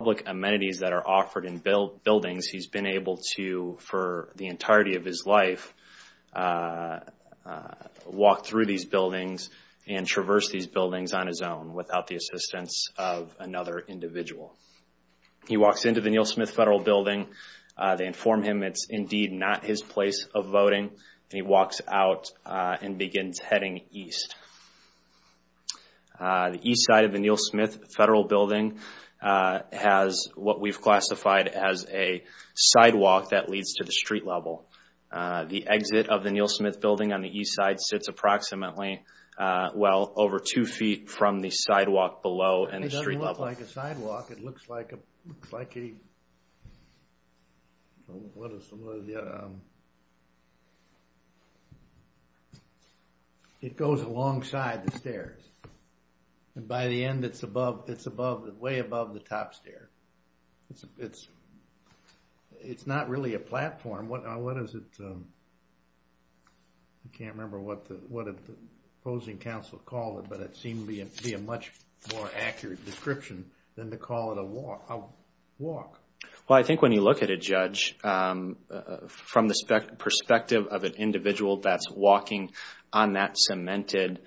public amenities that are offered in buildings, he's been able to, for the entirety of his life, walk through these buildings and traverse these buildings on his own without the assistance of another individual. He walks into the Neal Smith Federal Building. They inform him it's indeed not his place of voting, and he walks out and begins heading east. The east side of the Neal Smith Federal Building has what we've classified as a sidewalk that leads to the street level. The exit of the Neal Smith Building on the east side sits approximately, well over two feet from the sidewalk below and the street level. It looks like a sidewalk, it looks like a, it goes alongside the stairs, and by the end it's above, it's above, way above the top stair. It's, it's not really a platform, what is it, I can't remember what the, what the opposing counsel called it, but it seemed to be a much more accurate description than to call it a walk. Well, I think when you look at a judge, from the perspective of an individual that's walking on that cemented,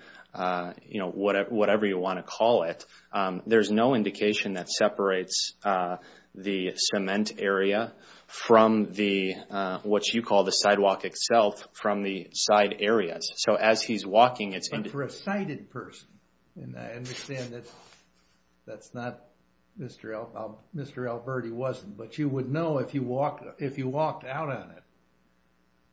you know, whatever you want to call it, there's no indication that separates the cement area from the, what you call the sidewalk itself, from the side areas. So, as he's walking, it's... But for a sighted person, and I understand that that's not, Mr. Alberti wasn't, but you would know if you walk, if you walked out on it,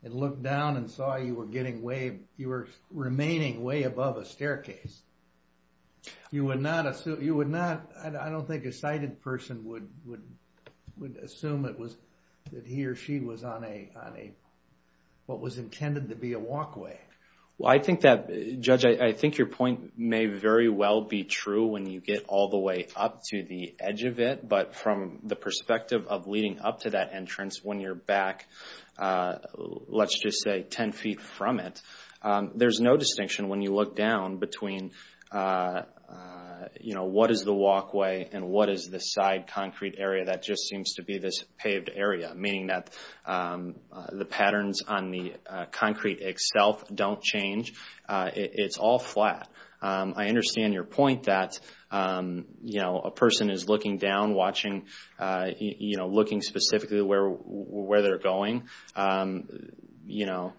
and looked down and saw you were getting way, you were remaining way above a staircase, you would not assume, you would not, I don't think a sighted person would assume it was that he or she was on a, on a, what was intended to be a walkway. Well, I think that, Judge, I think your point may very well be true when you get all the way up to the edge of it, but from the perspective of leading up to that entrance, when you're back, let's just say 10 feet from it, there's no distinction when you look down between, you know, what is the walkway and what is the side concrete area that just seems to be this paved area, meaning that the patterns on the concrete itself don't change. It's all flat. I understand your point that, you know, a person is looking down, watching, you know, looking specifically where they're going. You know,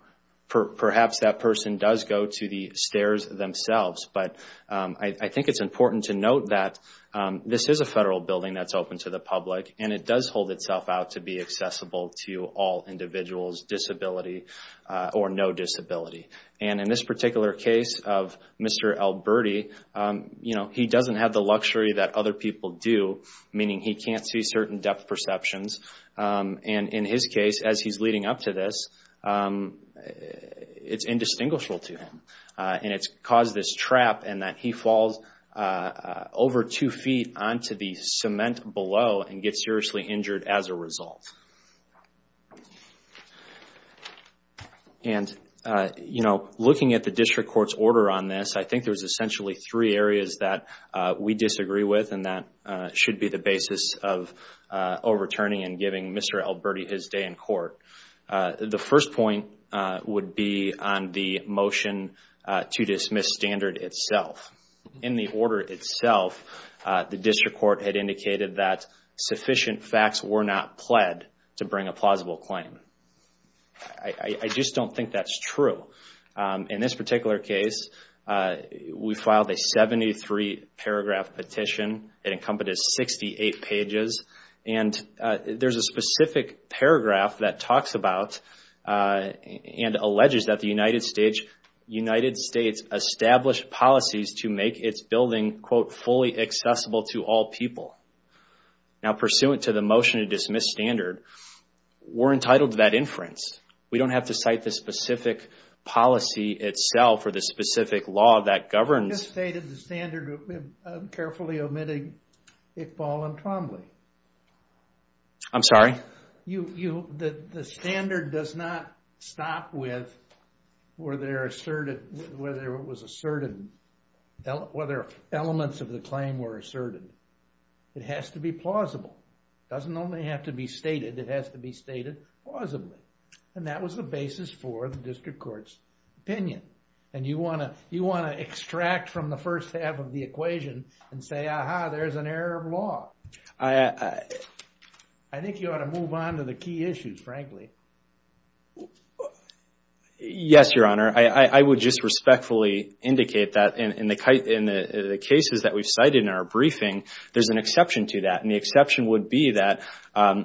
perhaps that person does go to the stairs themselves, but I think it's important to note that this is a federal building that's open to the public, and it does hold itself out to be accessible to all individuals, disability or no disability. And in this particular case of Mr. Alberti, you know, he doesn't have the luxury that other people do, meaning he can't see certain depth perceptions, and in his case, as he's leading up to this, it's indistinguishable to him. And it's caused this trap in that he falls over two feet onto the cement below and gets seriously injured as a result. And, you know, looking at the district court's order on this, I think there's essentially three areas that we disagree with, and that should be the basis of overturning and giving Mr. Alberti his day in court. The first point would be on the motion to dismiss standard itself. In the order itself, the district court had indicated that sufficient facts were not pled to bring a plausible claim. I just don't think that's true. In this particular case, we filed a 73-paragraph petition. It encompasses 68 pages, and there's a specific paragraph that talks about and alleges that the United States established policies to make its building, quote, fully accessible to all people. Now, pursuant to the motion to dismiss standard, we're entitled to that inference. We don't have to cite the specific policy itself or the specific law that governs. You misstated the standard, carefully omitting Iqbal and Trombley. I'm sorry? The standard does not stop with whether it was asserted, whether elements of the claim were asserted. It has to be plausible. It doesn't only have to be stated, it has to be stated plausibly. And that was the basis for the district court's opinion. And you want to extract from the first half of the equation and say, aha, there's an error of law. I think you ought to move on to the key issues, frankly. Yes, Your Honor. I would just respectfully indicate that in the cases that we've cited in our briefing, there's an exception to that. And the exception would be that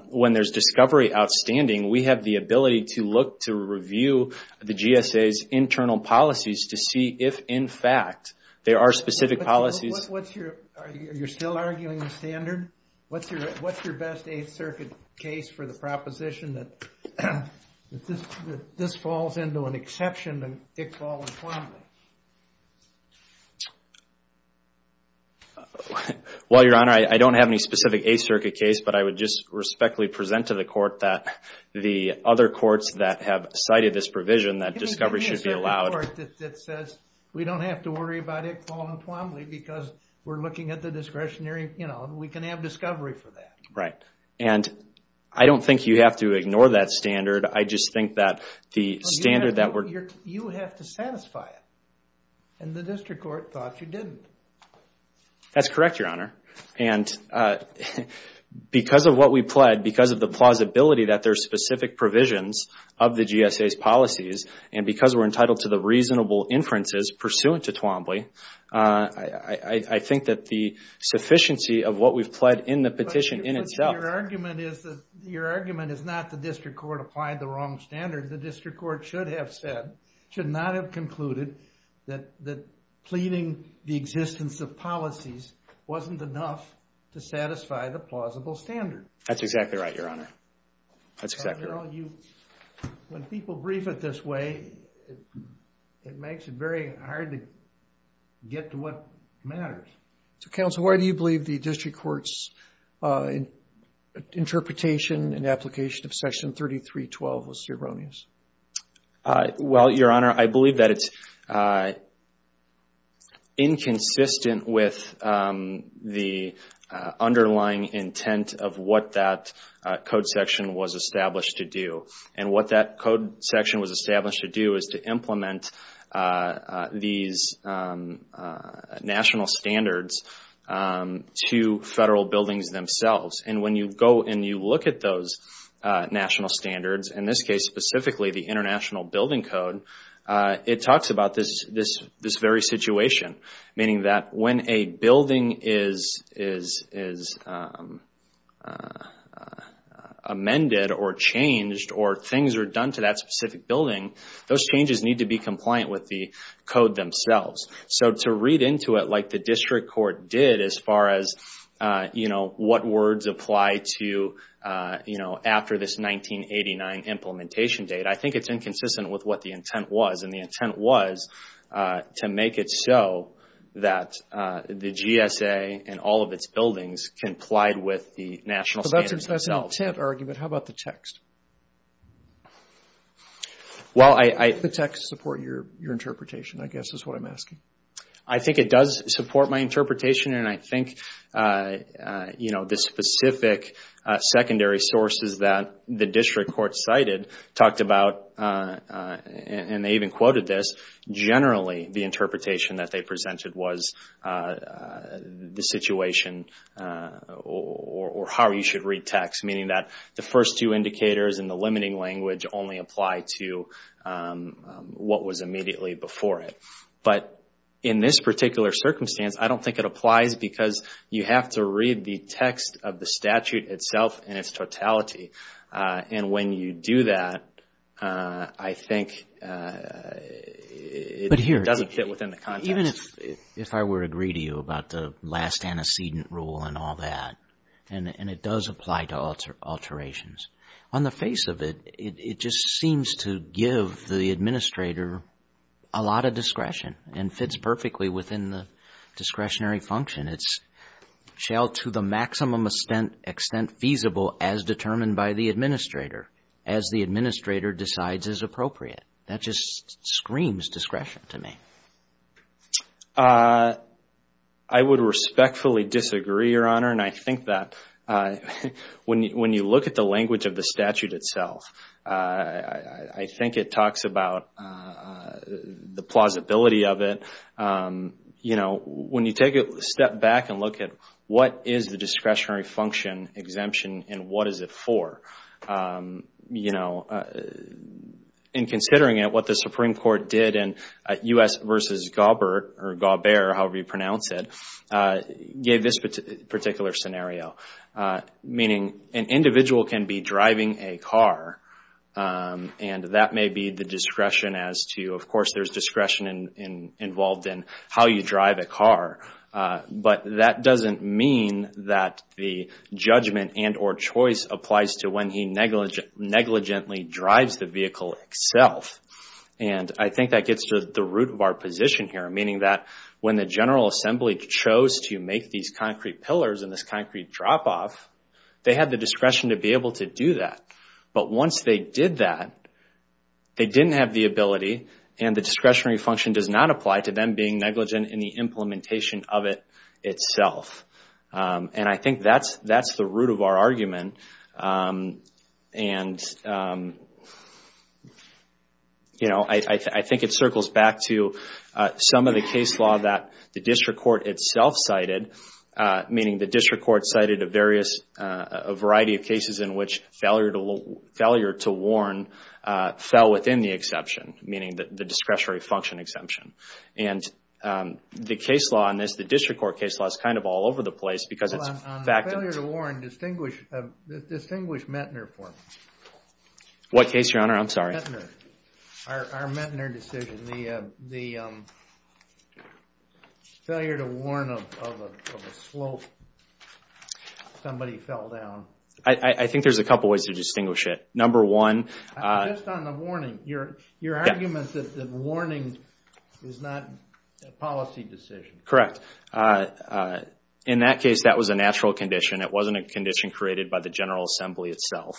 when there's discovery outstanding, we have the ability to look to review the GSA's internal policies to see if, in fact, there are specific policies. Are you still arguing the standard? What's your best Eighth Circuit case for the proposition that this falls into an exception to Iqbal and Trombley? Well, Your Honor, I don't have any specific Eighth Circuit case, but I would just respectfully present to the court that the other courts that have cited this provision that discovery should be allowed. Give me a certain court that says we don't have to worry about Iqbal and Trombley because we're looking at the discretionary. We can have discovery for that. Right. And I don't think you have to ignore that standard. I just think that the standard that we're... You have to satisfy it. And the district court thought you didn't. That's correct, Your Honor. And because of what we pled, because of the plausibility that there's specific provisions of the GSA's policies, and because we're entitled to the reasonable inferences pursuant to Trombley, I think that the sufficiency of what we've pled in the petition in itself... But your argument is that... Your argument is not the district court applied the wrong standard. The district court should have said, should not have concluded that pleading the existence of policies wasn't enough to satisfy the plausible standard. That's exactly right, Your Honor. That's exactly right. When people brief it this way, it makes it very hard to get to what matters. So, Counsel, why do you believe the district court's interpretation and application of Section 3312 was erroneous? Well, Your Honor, I believe that it's inconsistent with the underlying intent of what that code section was established to do. And what that code section was established to do is to implement these national standards to federal buildings themselves. And when you go and you look at those national standards, in this case specifically the International Building Code, it talks about this very situation. Meaning that when a building is amended or changed, or things are done to that specific building, those changes need to be compliant with the code themselves. So to read into it like the district court did as far as what words apply to after this 1989 implementation date, I think it's inconsistent with what the intent was. The intent was to make it so that the GSA and all of its buildings complied with the national standards themselves. That's an intent argument. How about the text? Does the text support your interpretation, I guess is what I'm asking. I think it does support my interpretation. And I think the specific secondary sources that the district court cited talked about, and they even quoted this, generally the interpretation that they presented was the situation or how you should read text. Meaning that the first two indicators in the limiting language only apply to what was immediately before it. But in this particular circumstance, I don't think it applies because you have to read the text of the statute itself in its totality. And when you do that, I think it doesn't fit within the context. Even if I were to agree to you about the last antecedent rule and all that, and it does apply to alterations. On the face of it, it just seems to give the administrator a lot of discretion and fits perfectly within the discretionary function. It shall to the maximum extent feasible as determined by the administrator as the administrator decides is appropriate. That just screams discretion to me. I would respectfully disagree, Your Honor. And I think that when you look at the language of the statute itself, I think it talks about the plausibility of it. You know, when you take a step back and look at what is the discretionary function exemption and what is it for? You know, in considering it, what the Supreme Court did in U.S. versus Gaubert, or Gaubert, however you pronounce it, gave this particular scenario. Meaning an individual can be driving a car and that may be the discretion as to, of course, there's discretion involved in how you drive a car, but that doesn't mean that the judgment and or choice applies to when he negligently drives the vehicle itself. And I think that gets to the root of our position here. Meaning that when the General Assembly chose to make these concrete pillars and this concrete drop-off, they had the discretion to be able to do that. But once they did that, they didn't have the ability and the discretionary function does not apply to them being negligent in the implementation of it itself. And I think that's the root of our argument. And, you know, I think it circles back to some of the case law that the district court itself cited. Meaning the district court cited a variety of cases in which failure to warn fell within the exception. Meaning the discretionary function exemption. And the case law on this, the district court case law, is kind of all over the place because it's fact... On the failure to warn, distinguish Mettner for me. What case, Your Honor? I'm sorry. Mettner. Our Mettner decision. The failure to warn of a slope. Somebody fell down. I think there's a couple ways to distinguish it. Number one... Just on the warning. Your argument that the warning is not a policy decision. Correct. In that case, that was a natural condition. It wasn't a condition created by the General Assembly itself.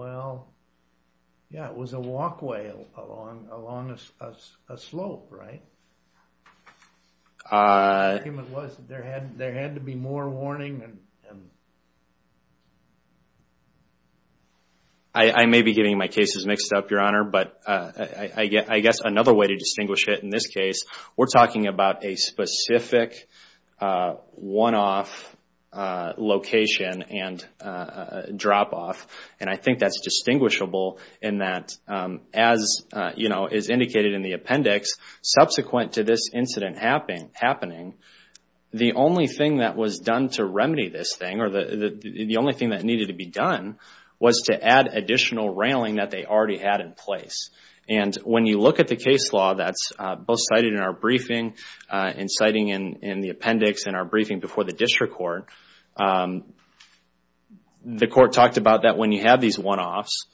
Well, yeah, it was a walkway along a slope, right? The argument was there had to be more warning. I may be getting my cases mixed up, Your Honor, but I guess another way to distinguish it in this case, we're talking about a specific one-off location and drop-off. And I think that's distinguishable in that, as is indicated in the appendix, subsequent to this incident happening, the only thing that was done to remedy this thing, or the only thing that needed to be done, was to add additional railing that they already had in place. And when you look at the case law, that's both cited in our briefing and citing in the appendix in our briefing before the district court, the court talked about that when you have these one-offs,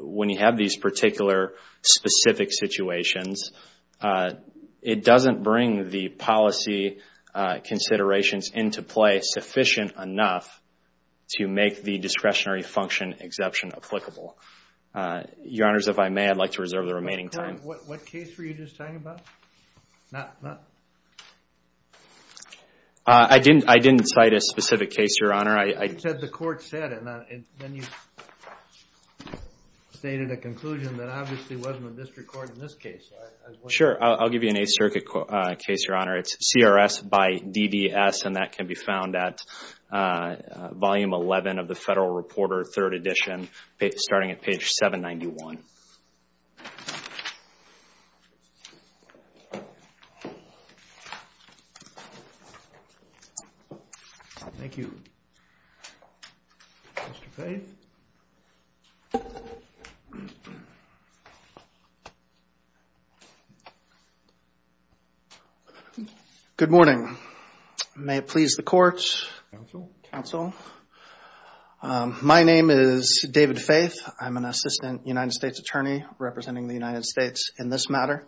when you have these particular specific situations, it doesn't bring the policy considerations into play sufficient enough to make the discretionary function exemption applicable. Your Honors, if I may, I'd like to reserve the remaining time. What case were you just talking about? I didn't cite a specific case, Your Honor. You said the court said it, and then you stated a conclusion that obviously wasn't a district court in this case. Sure, I'll give you an Eighth Circuit case, Your Honor. It's CRS by DBS, and that can be found at Volume 11 of the Federal Reporter, Third Edition, starting at page 791. Thank you. Mr. Fay? Good morning. May it please the court. Counsel. My name is David Fayth. I'm an assistant United States attorney representing the United States in this matter.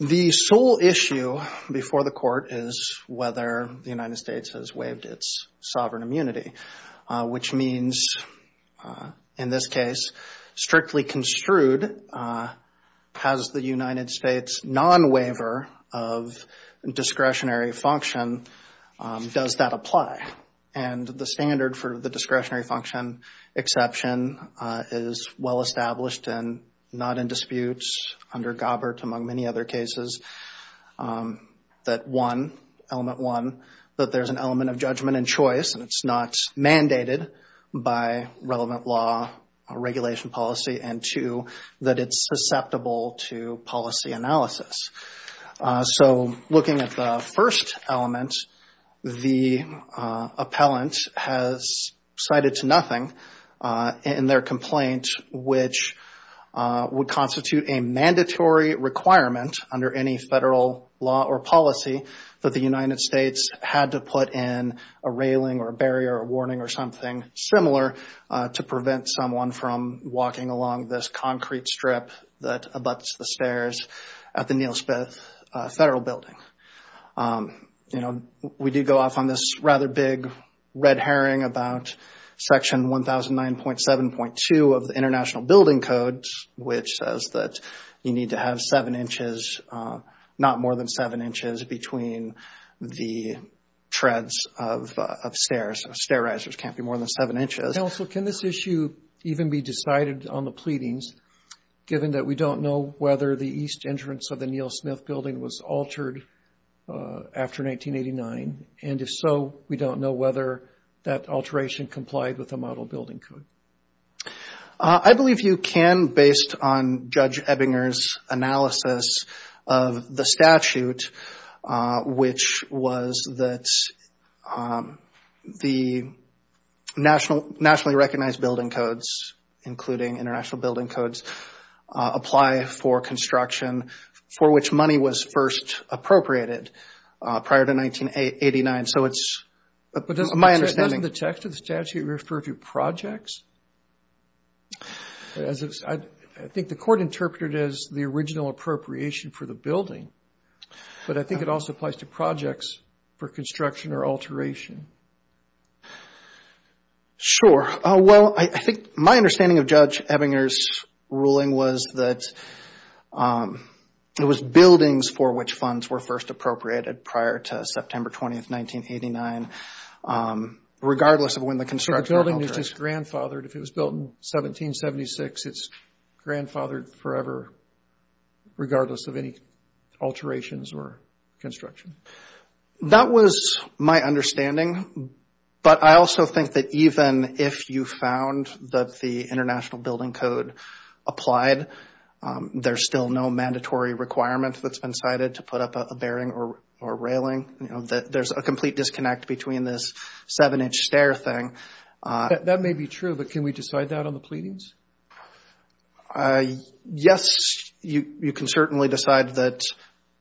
The sole issue before the court is whether the United States has waived its sovereign immunity, which means, in this case, strictly construed and has the United States non-waiver of discretionary function, does that apply? And the standard for the discretionary function exception is well-established and not in dispute under Gobbert, among many other cases, that one, element one, that there's an element of judgment and choice, and it's not mandated by relevant law, regulation policy, and two, that it's susceptible to policy analysis. So looking at the first element, the appellant has cited to nothing in their complaint, which would constitute a mandatory requirement under any federal law or policy that the United States had to put in a railing or a barrier or a warning or something similar to prevent someone from walking along this concrete strip that abuts the stairs at the Neilspith Federal Building. You know, we did go off on this rather big red herring about section 1009.7.2 of the International Building Code, which says that you need to have seven inches, not more than seven inches, between the treads of stairs. Stair risers can't be more than seven inches. Can this issue even be decided on the pleadings, given that we don't know whether the east entrance of the Neilsmith Building was altered after 1989, and if so, we don't know whether that alteration complied with the Model Building Code? I believe you can, based on Judge Ebbinger's analysis of the statute, which was that the nationally recognized building codes, including International Building Codes, apply for construction for which money was first appropriated prior to 1989. So it's my understanding. Doesn't the text of the statute refer to projects? I think the court interpreted it as the original appropriation for the building, but I think it also applies to projects for construction or alteration. Sure. Well, I think my understanding of Judge Ebbinger's ruling was that it was buildings for which funds were first appropriated prior to September 20th, 1989, regardless of when the construction was altered. So the building is just grandfathered. If it was built in 1776, it's grandfathered forever, regardless of any alterations or construction. That was my understanding, but I also think that even if you found that the International Building Code applied, there's still no mandatory requirement that's been cited to put up a bearing or railing. There's a complete disconnect between this seven-inch stair thing. That may be true, but can we decide that on the pleadings? Yes, you can certainly decide that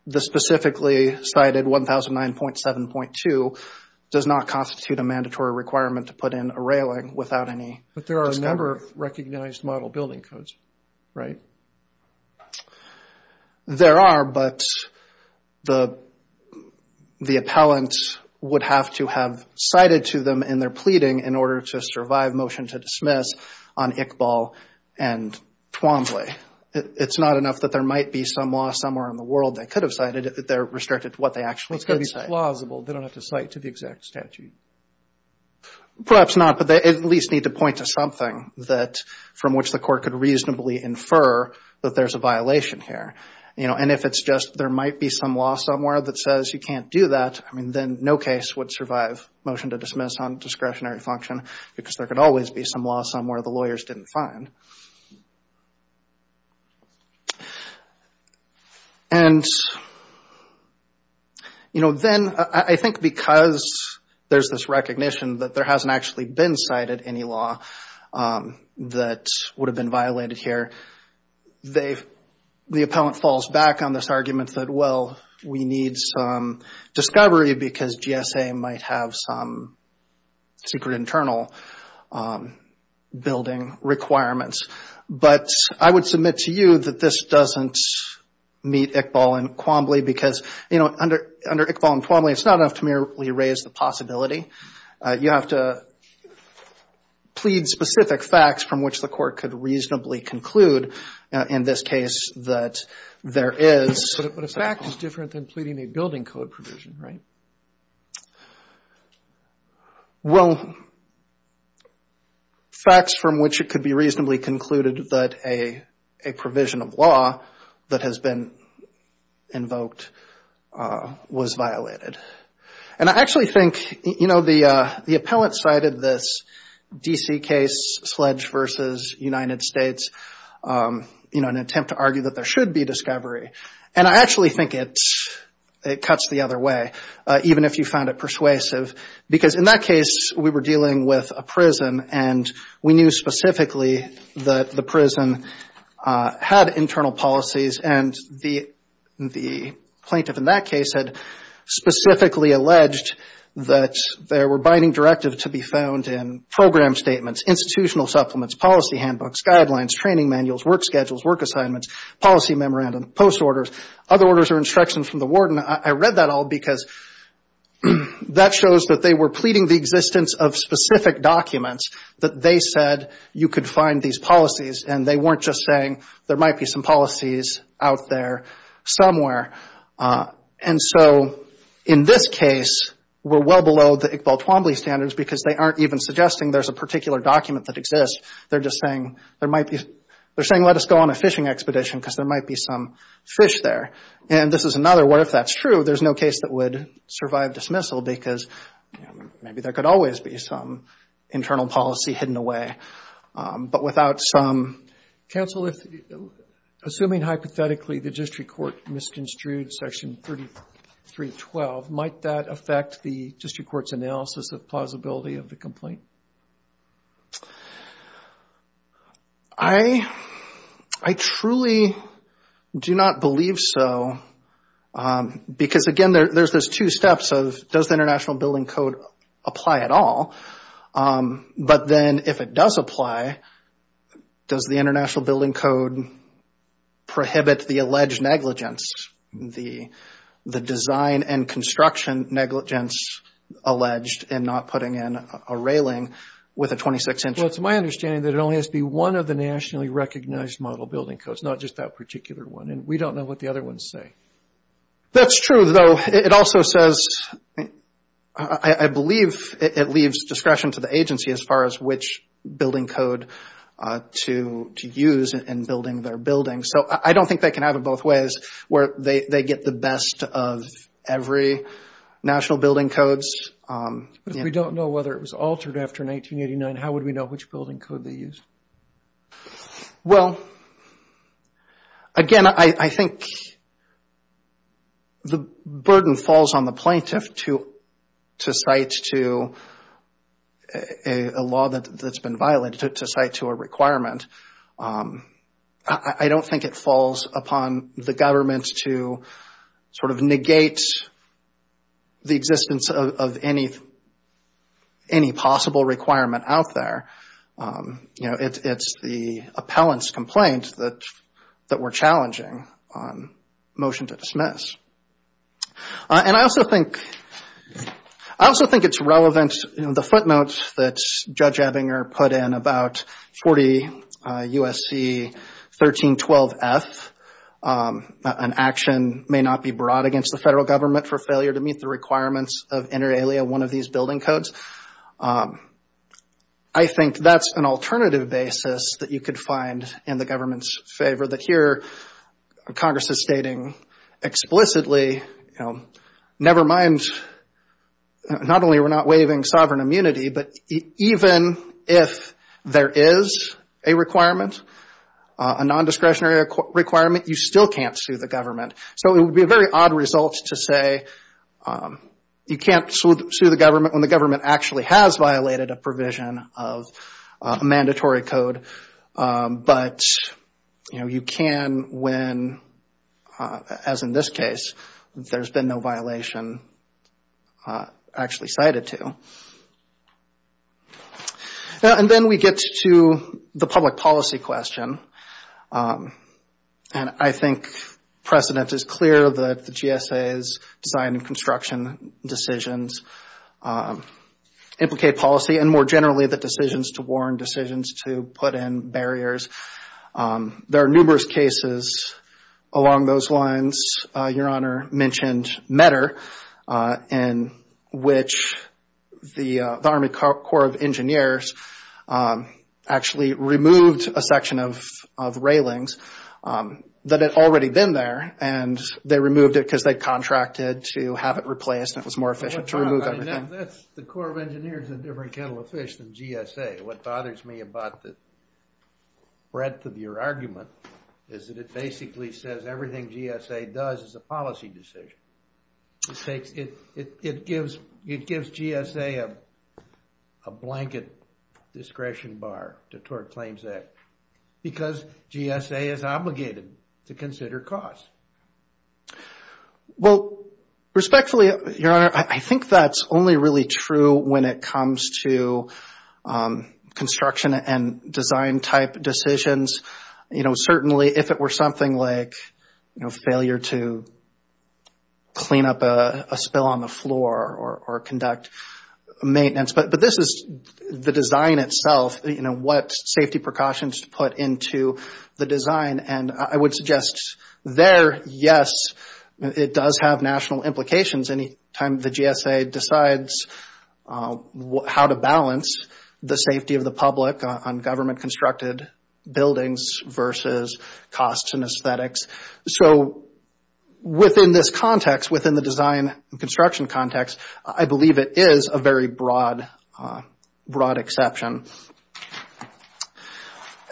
the specifically cited 1009.7.2 does not constitute a mandatory requirement to put in a railing without any... But there are a number of recognized model building codes, right? There are, but the appellants would have to have cited to them in their pleading in order to survive motion to dismiss on Iqbal and Twombly. It's not enough that there might be some law somewhere in the world that could have cited it, that they're restricted to what they actually could say. It's got to be plausible. They don't have to cite to the exact statute. Perhaps not, but they at least need to point to something from which the court could reasonably infer that there's a violation here. You know, and if it's just there might be some law somewhere that says you can't do that, I mean, then no case would survive motion to dismiss on discretionary function because there could always be some law somewhere the lawyers didn't find. And, you know, then I think because there's this recognition that there hasn't actually been cited any law that would have been violated here, the appellant falls back on this argument that, well, we need some discovery because GSA might have some secret internal building requirements. But I would submit to you that this doesn't meet Iqbal and Quambley because, you know, under Iqbal and Quambley, it's not enough to merely raise the possibility. You have to plead specific facts from which the court could reasonably conclude in this case that there is. But a fact is different than pleading a building code provision, right? Well, facts from which it could be reasonably concluded that a provision of law that has been invoked was violated. And I actually think, you know, the appellant cited this D.C. case, Sledge v. United States, you know, an attempt to argue that there should be discovery. And I actually think it cuts the other way, even if you found it persuasive. Because in that case, we were dealing with a prison and we knew specifically that the prison had internal policies. And the plaintiff in that case had specifically alleged that there were binding directives to be found in program statements, institutional supplements, policy handbooks, guidelines, training manuals, work schedules, work assignments, policy memorandum, post orders, other orders or instructions from the warden. I read that all because that shows that they were pleading the existence of specific documents that they said you could find these policies. And they weren't just saying there might be some policies out there somewhere. And so in this case, we're well below the Iqbal Twombly standards because they aren't even suggesting there's a particular document that exists. They're just saying there might be, they're saying let us go on a fishing expedition because there might be some fish there. And this is another where if that's true, there's no case that would survive dismissal because maybe there could always be some internal policy hidden away. But without some... Counsel, assuming hypothetically the district court misconstrued Section 3312, might that affect the district court's analysis of plausibility of the complaint? I truly do not believe so. Because again, there's those two steps of does the International Building Code apply at all? But then if it does apply, does the International Building Code prohibit the alleged negligence? The design and construction negligence alleged in not putting in a railing with a 26-inch... Well, it's my understanding that it only has to be one of the nationally recognized model building codes, not just that particular one. And we don't know what the other ones say. That's true, though. It also says, I believe it leaves discretion to the agency as far as which building code to use in building their buildings. So I don't think they can have it both ways where they get the best of every national building codes. But if we don't know whether it was altered after 1989, how would we know which building code they used? Well, again, I think the burden falls on the plaintiff to cite to a law that's been violated, to cite to a requirement. I don't think it falls upon the government to sort of negate the existence of any possible requirement out there. You know, it's the appellant's complaint that we're challenging on motion to dismiss. And I also think it's relevant... The footnotes that Judge Ebbinger put in about 40 USC 1312F, an action may not be brought against the federal government for failure to meet the requirements of inter alia one of these building codes. I think that's an alternative basis that you could find in the government's favor. That here, Congress is stating explicitly, you know, never mind, not only we're not waiving sovereign immunity, but even if there is a requirement, a non-discretionary requirement, you still can't sue the government. So it would be a very odd result to say actually has violated a provision of a mandatory code. But, you know, you can when, as in this case, there's been no violation actually cited to. And then we get to the public policy question. And I think precedent is clear that the GSA's design and construction decisions implicate policy and more generally the decisions to warn, decisions to put in barriers. There are numerous cases along those lines. Your Honor mentioned METR in which the Army Corps of Engineers actually removed a section of railings that had already been there. And they removed it because they contracted to have it replaced. And it was more efficient to remove everything. That's, the Corps of Engineers is a different kettle of fish than GSA. What bothers me about the breadth of your argument is that it basically says everything GSA does is a policy decision. It takes, it gives GSA a blanket discretion bar to Tort Claims Act. Because GSA is obligated to consider costs. Well, respectfully, Your Honor, I think that's only really true when it comes to construction and design type decisions. You know, certainly if it were something like, you know, failure to clean up a spill on the floor or conduct maintenance. But this is the design itself, you know, what safety precautions to put into the design. And I would suggest there, yes, it does have national implications any time the GSA decides how to balance the safety of the public on government constructed buildings versus costs and aesthetics. So within this context, within the design construction context, I believe it is a very broad, broad exception.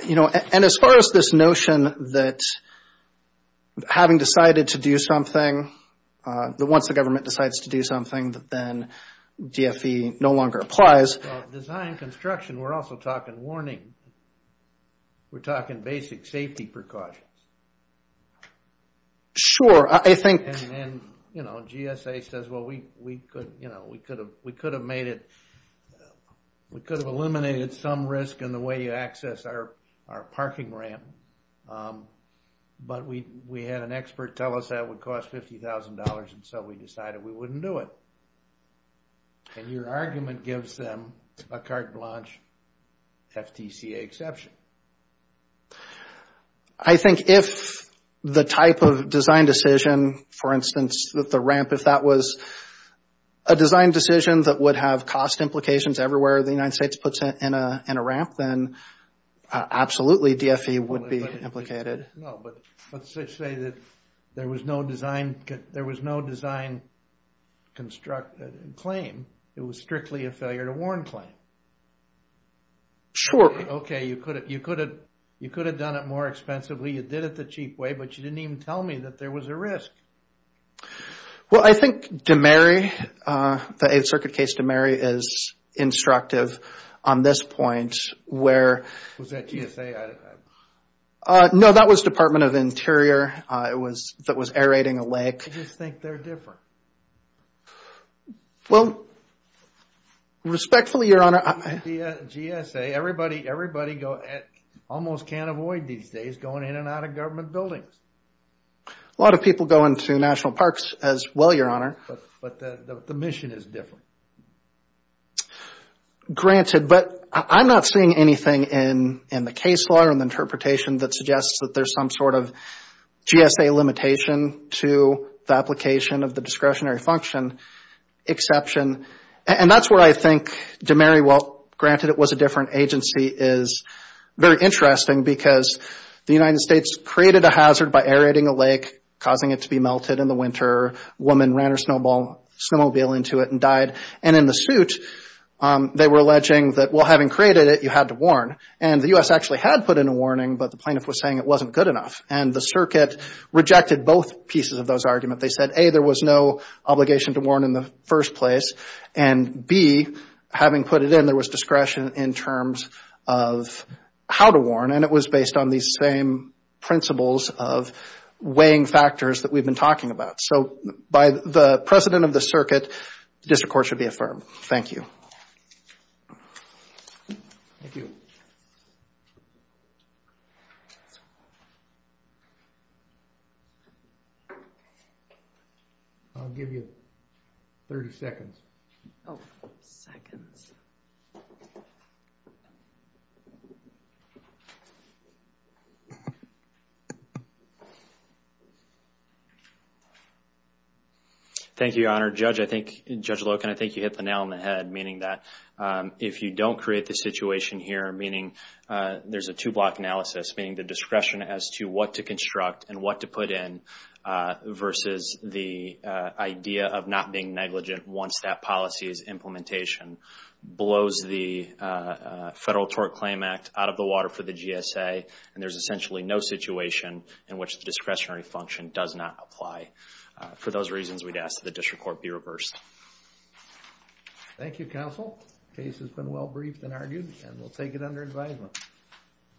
You know, and as far as this notion that having decided to do something, that once the government decides to do something, that then DFE no longer applies. Well, design construction, we're also talking warning. We're talking basic safety precautions. Sure, I think. And then, you know, GSA says, well, we could, you know, we could have made it, we could have eliminated some risk in the way you access our parking ramp. But we had an expert tell us that would cost $50,000. And so we decided we wouldn't do it. And your argument gives them a carte blanche FTCA exception. I think if the type of design decision, for instance, that the ramp, if that was a design decision that would have cost implications everywhere the United States puts in a ramp, then absolutely DFE would be implicated. No, but let's just say that there was no design construct claim. It was strictly a failure to warn claim. Sure. Okay, you could have done it more expensively. You did it the cheap way, but you didn't even tell me that there was a risk. Well, I think DeMary, the Eighth Circuit case DeMary is instructive on this point, where... Was that GSA? No, that was Department of Interior. It was, that was aerating a lake. I just think they're different. Well, respectfully, Your Honor... GSA, everybody, everybody go, almost can't avoid these days going in and out of government buildings. A lot of people go into national parks as well, Your Honor. But the mission is different. Granted, but I'm not seeing anything in the case law or in the interpretation that suggests that there's some sort of GSA limitation to the application of the discretionary function exception, and that's where I think DeMary, well, granted it was a different agency, is very interesting because the United States created a hazard by aerating a lake, causing it to be melted in the winter. A woman ran her snowmobile into it and died. And in the suit, they were alleging that, well, having created it, you had to warn. And the U.S. actually had put in a warning, but the plaintiff was saying it wasn't good enough. And the circuit rejected both pieces of those arguments. They said, A, there was no obligation to warn in the first place. And B, having put it in, there was discretion in terms of how to warn. And it was based on these same principles of weighing factors that we've been talking about. So by the precedent of the circuit, this, of course, should be affirmed. Thank you. I'll give you 30 seconds. Oh, seconds. Judge Loken, I think you hit the nail on the head, meaning that if you don't create the situation here, meaning there's a two-block analysis, meaning the discretion as to what to construct and what to put in versus the idea of not being negligent once that policy's implementation blows the Federal Tort Claim Act out of the water for the GSA, and there's essentially no situation in which the discretionary function does not apply. For those reasons, we'd ask that the district court be reversed. Thank you, counsel. Case has been well briefed and argued, and we'll take it under advisement.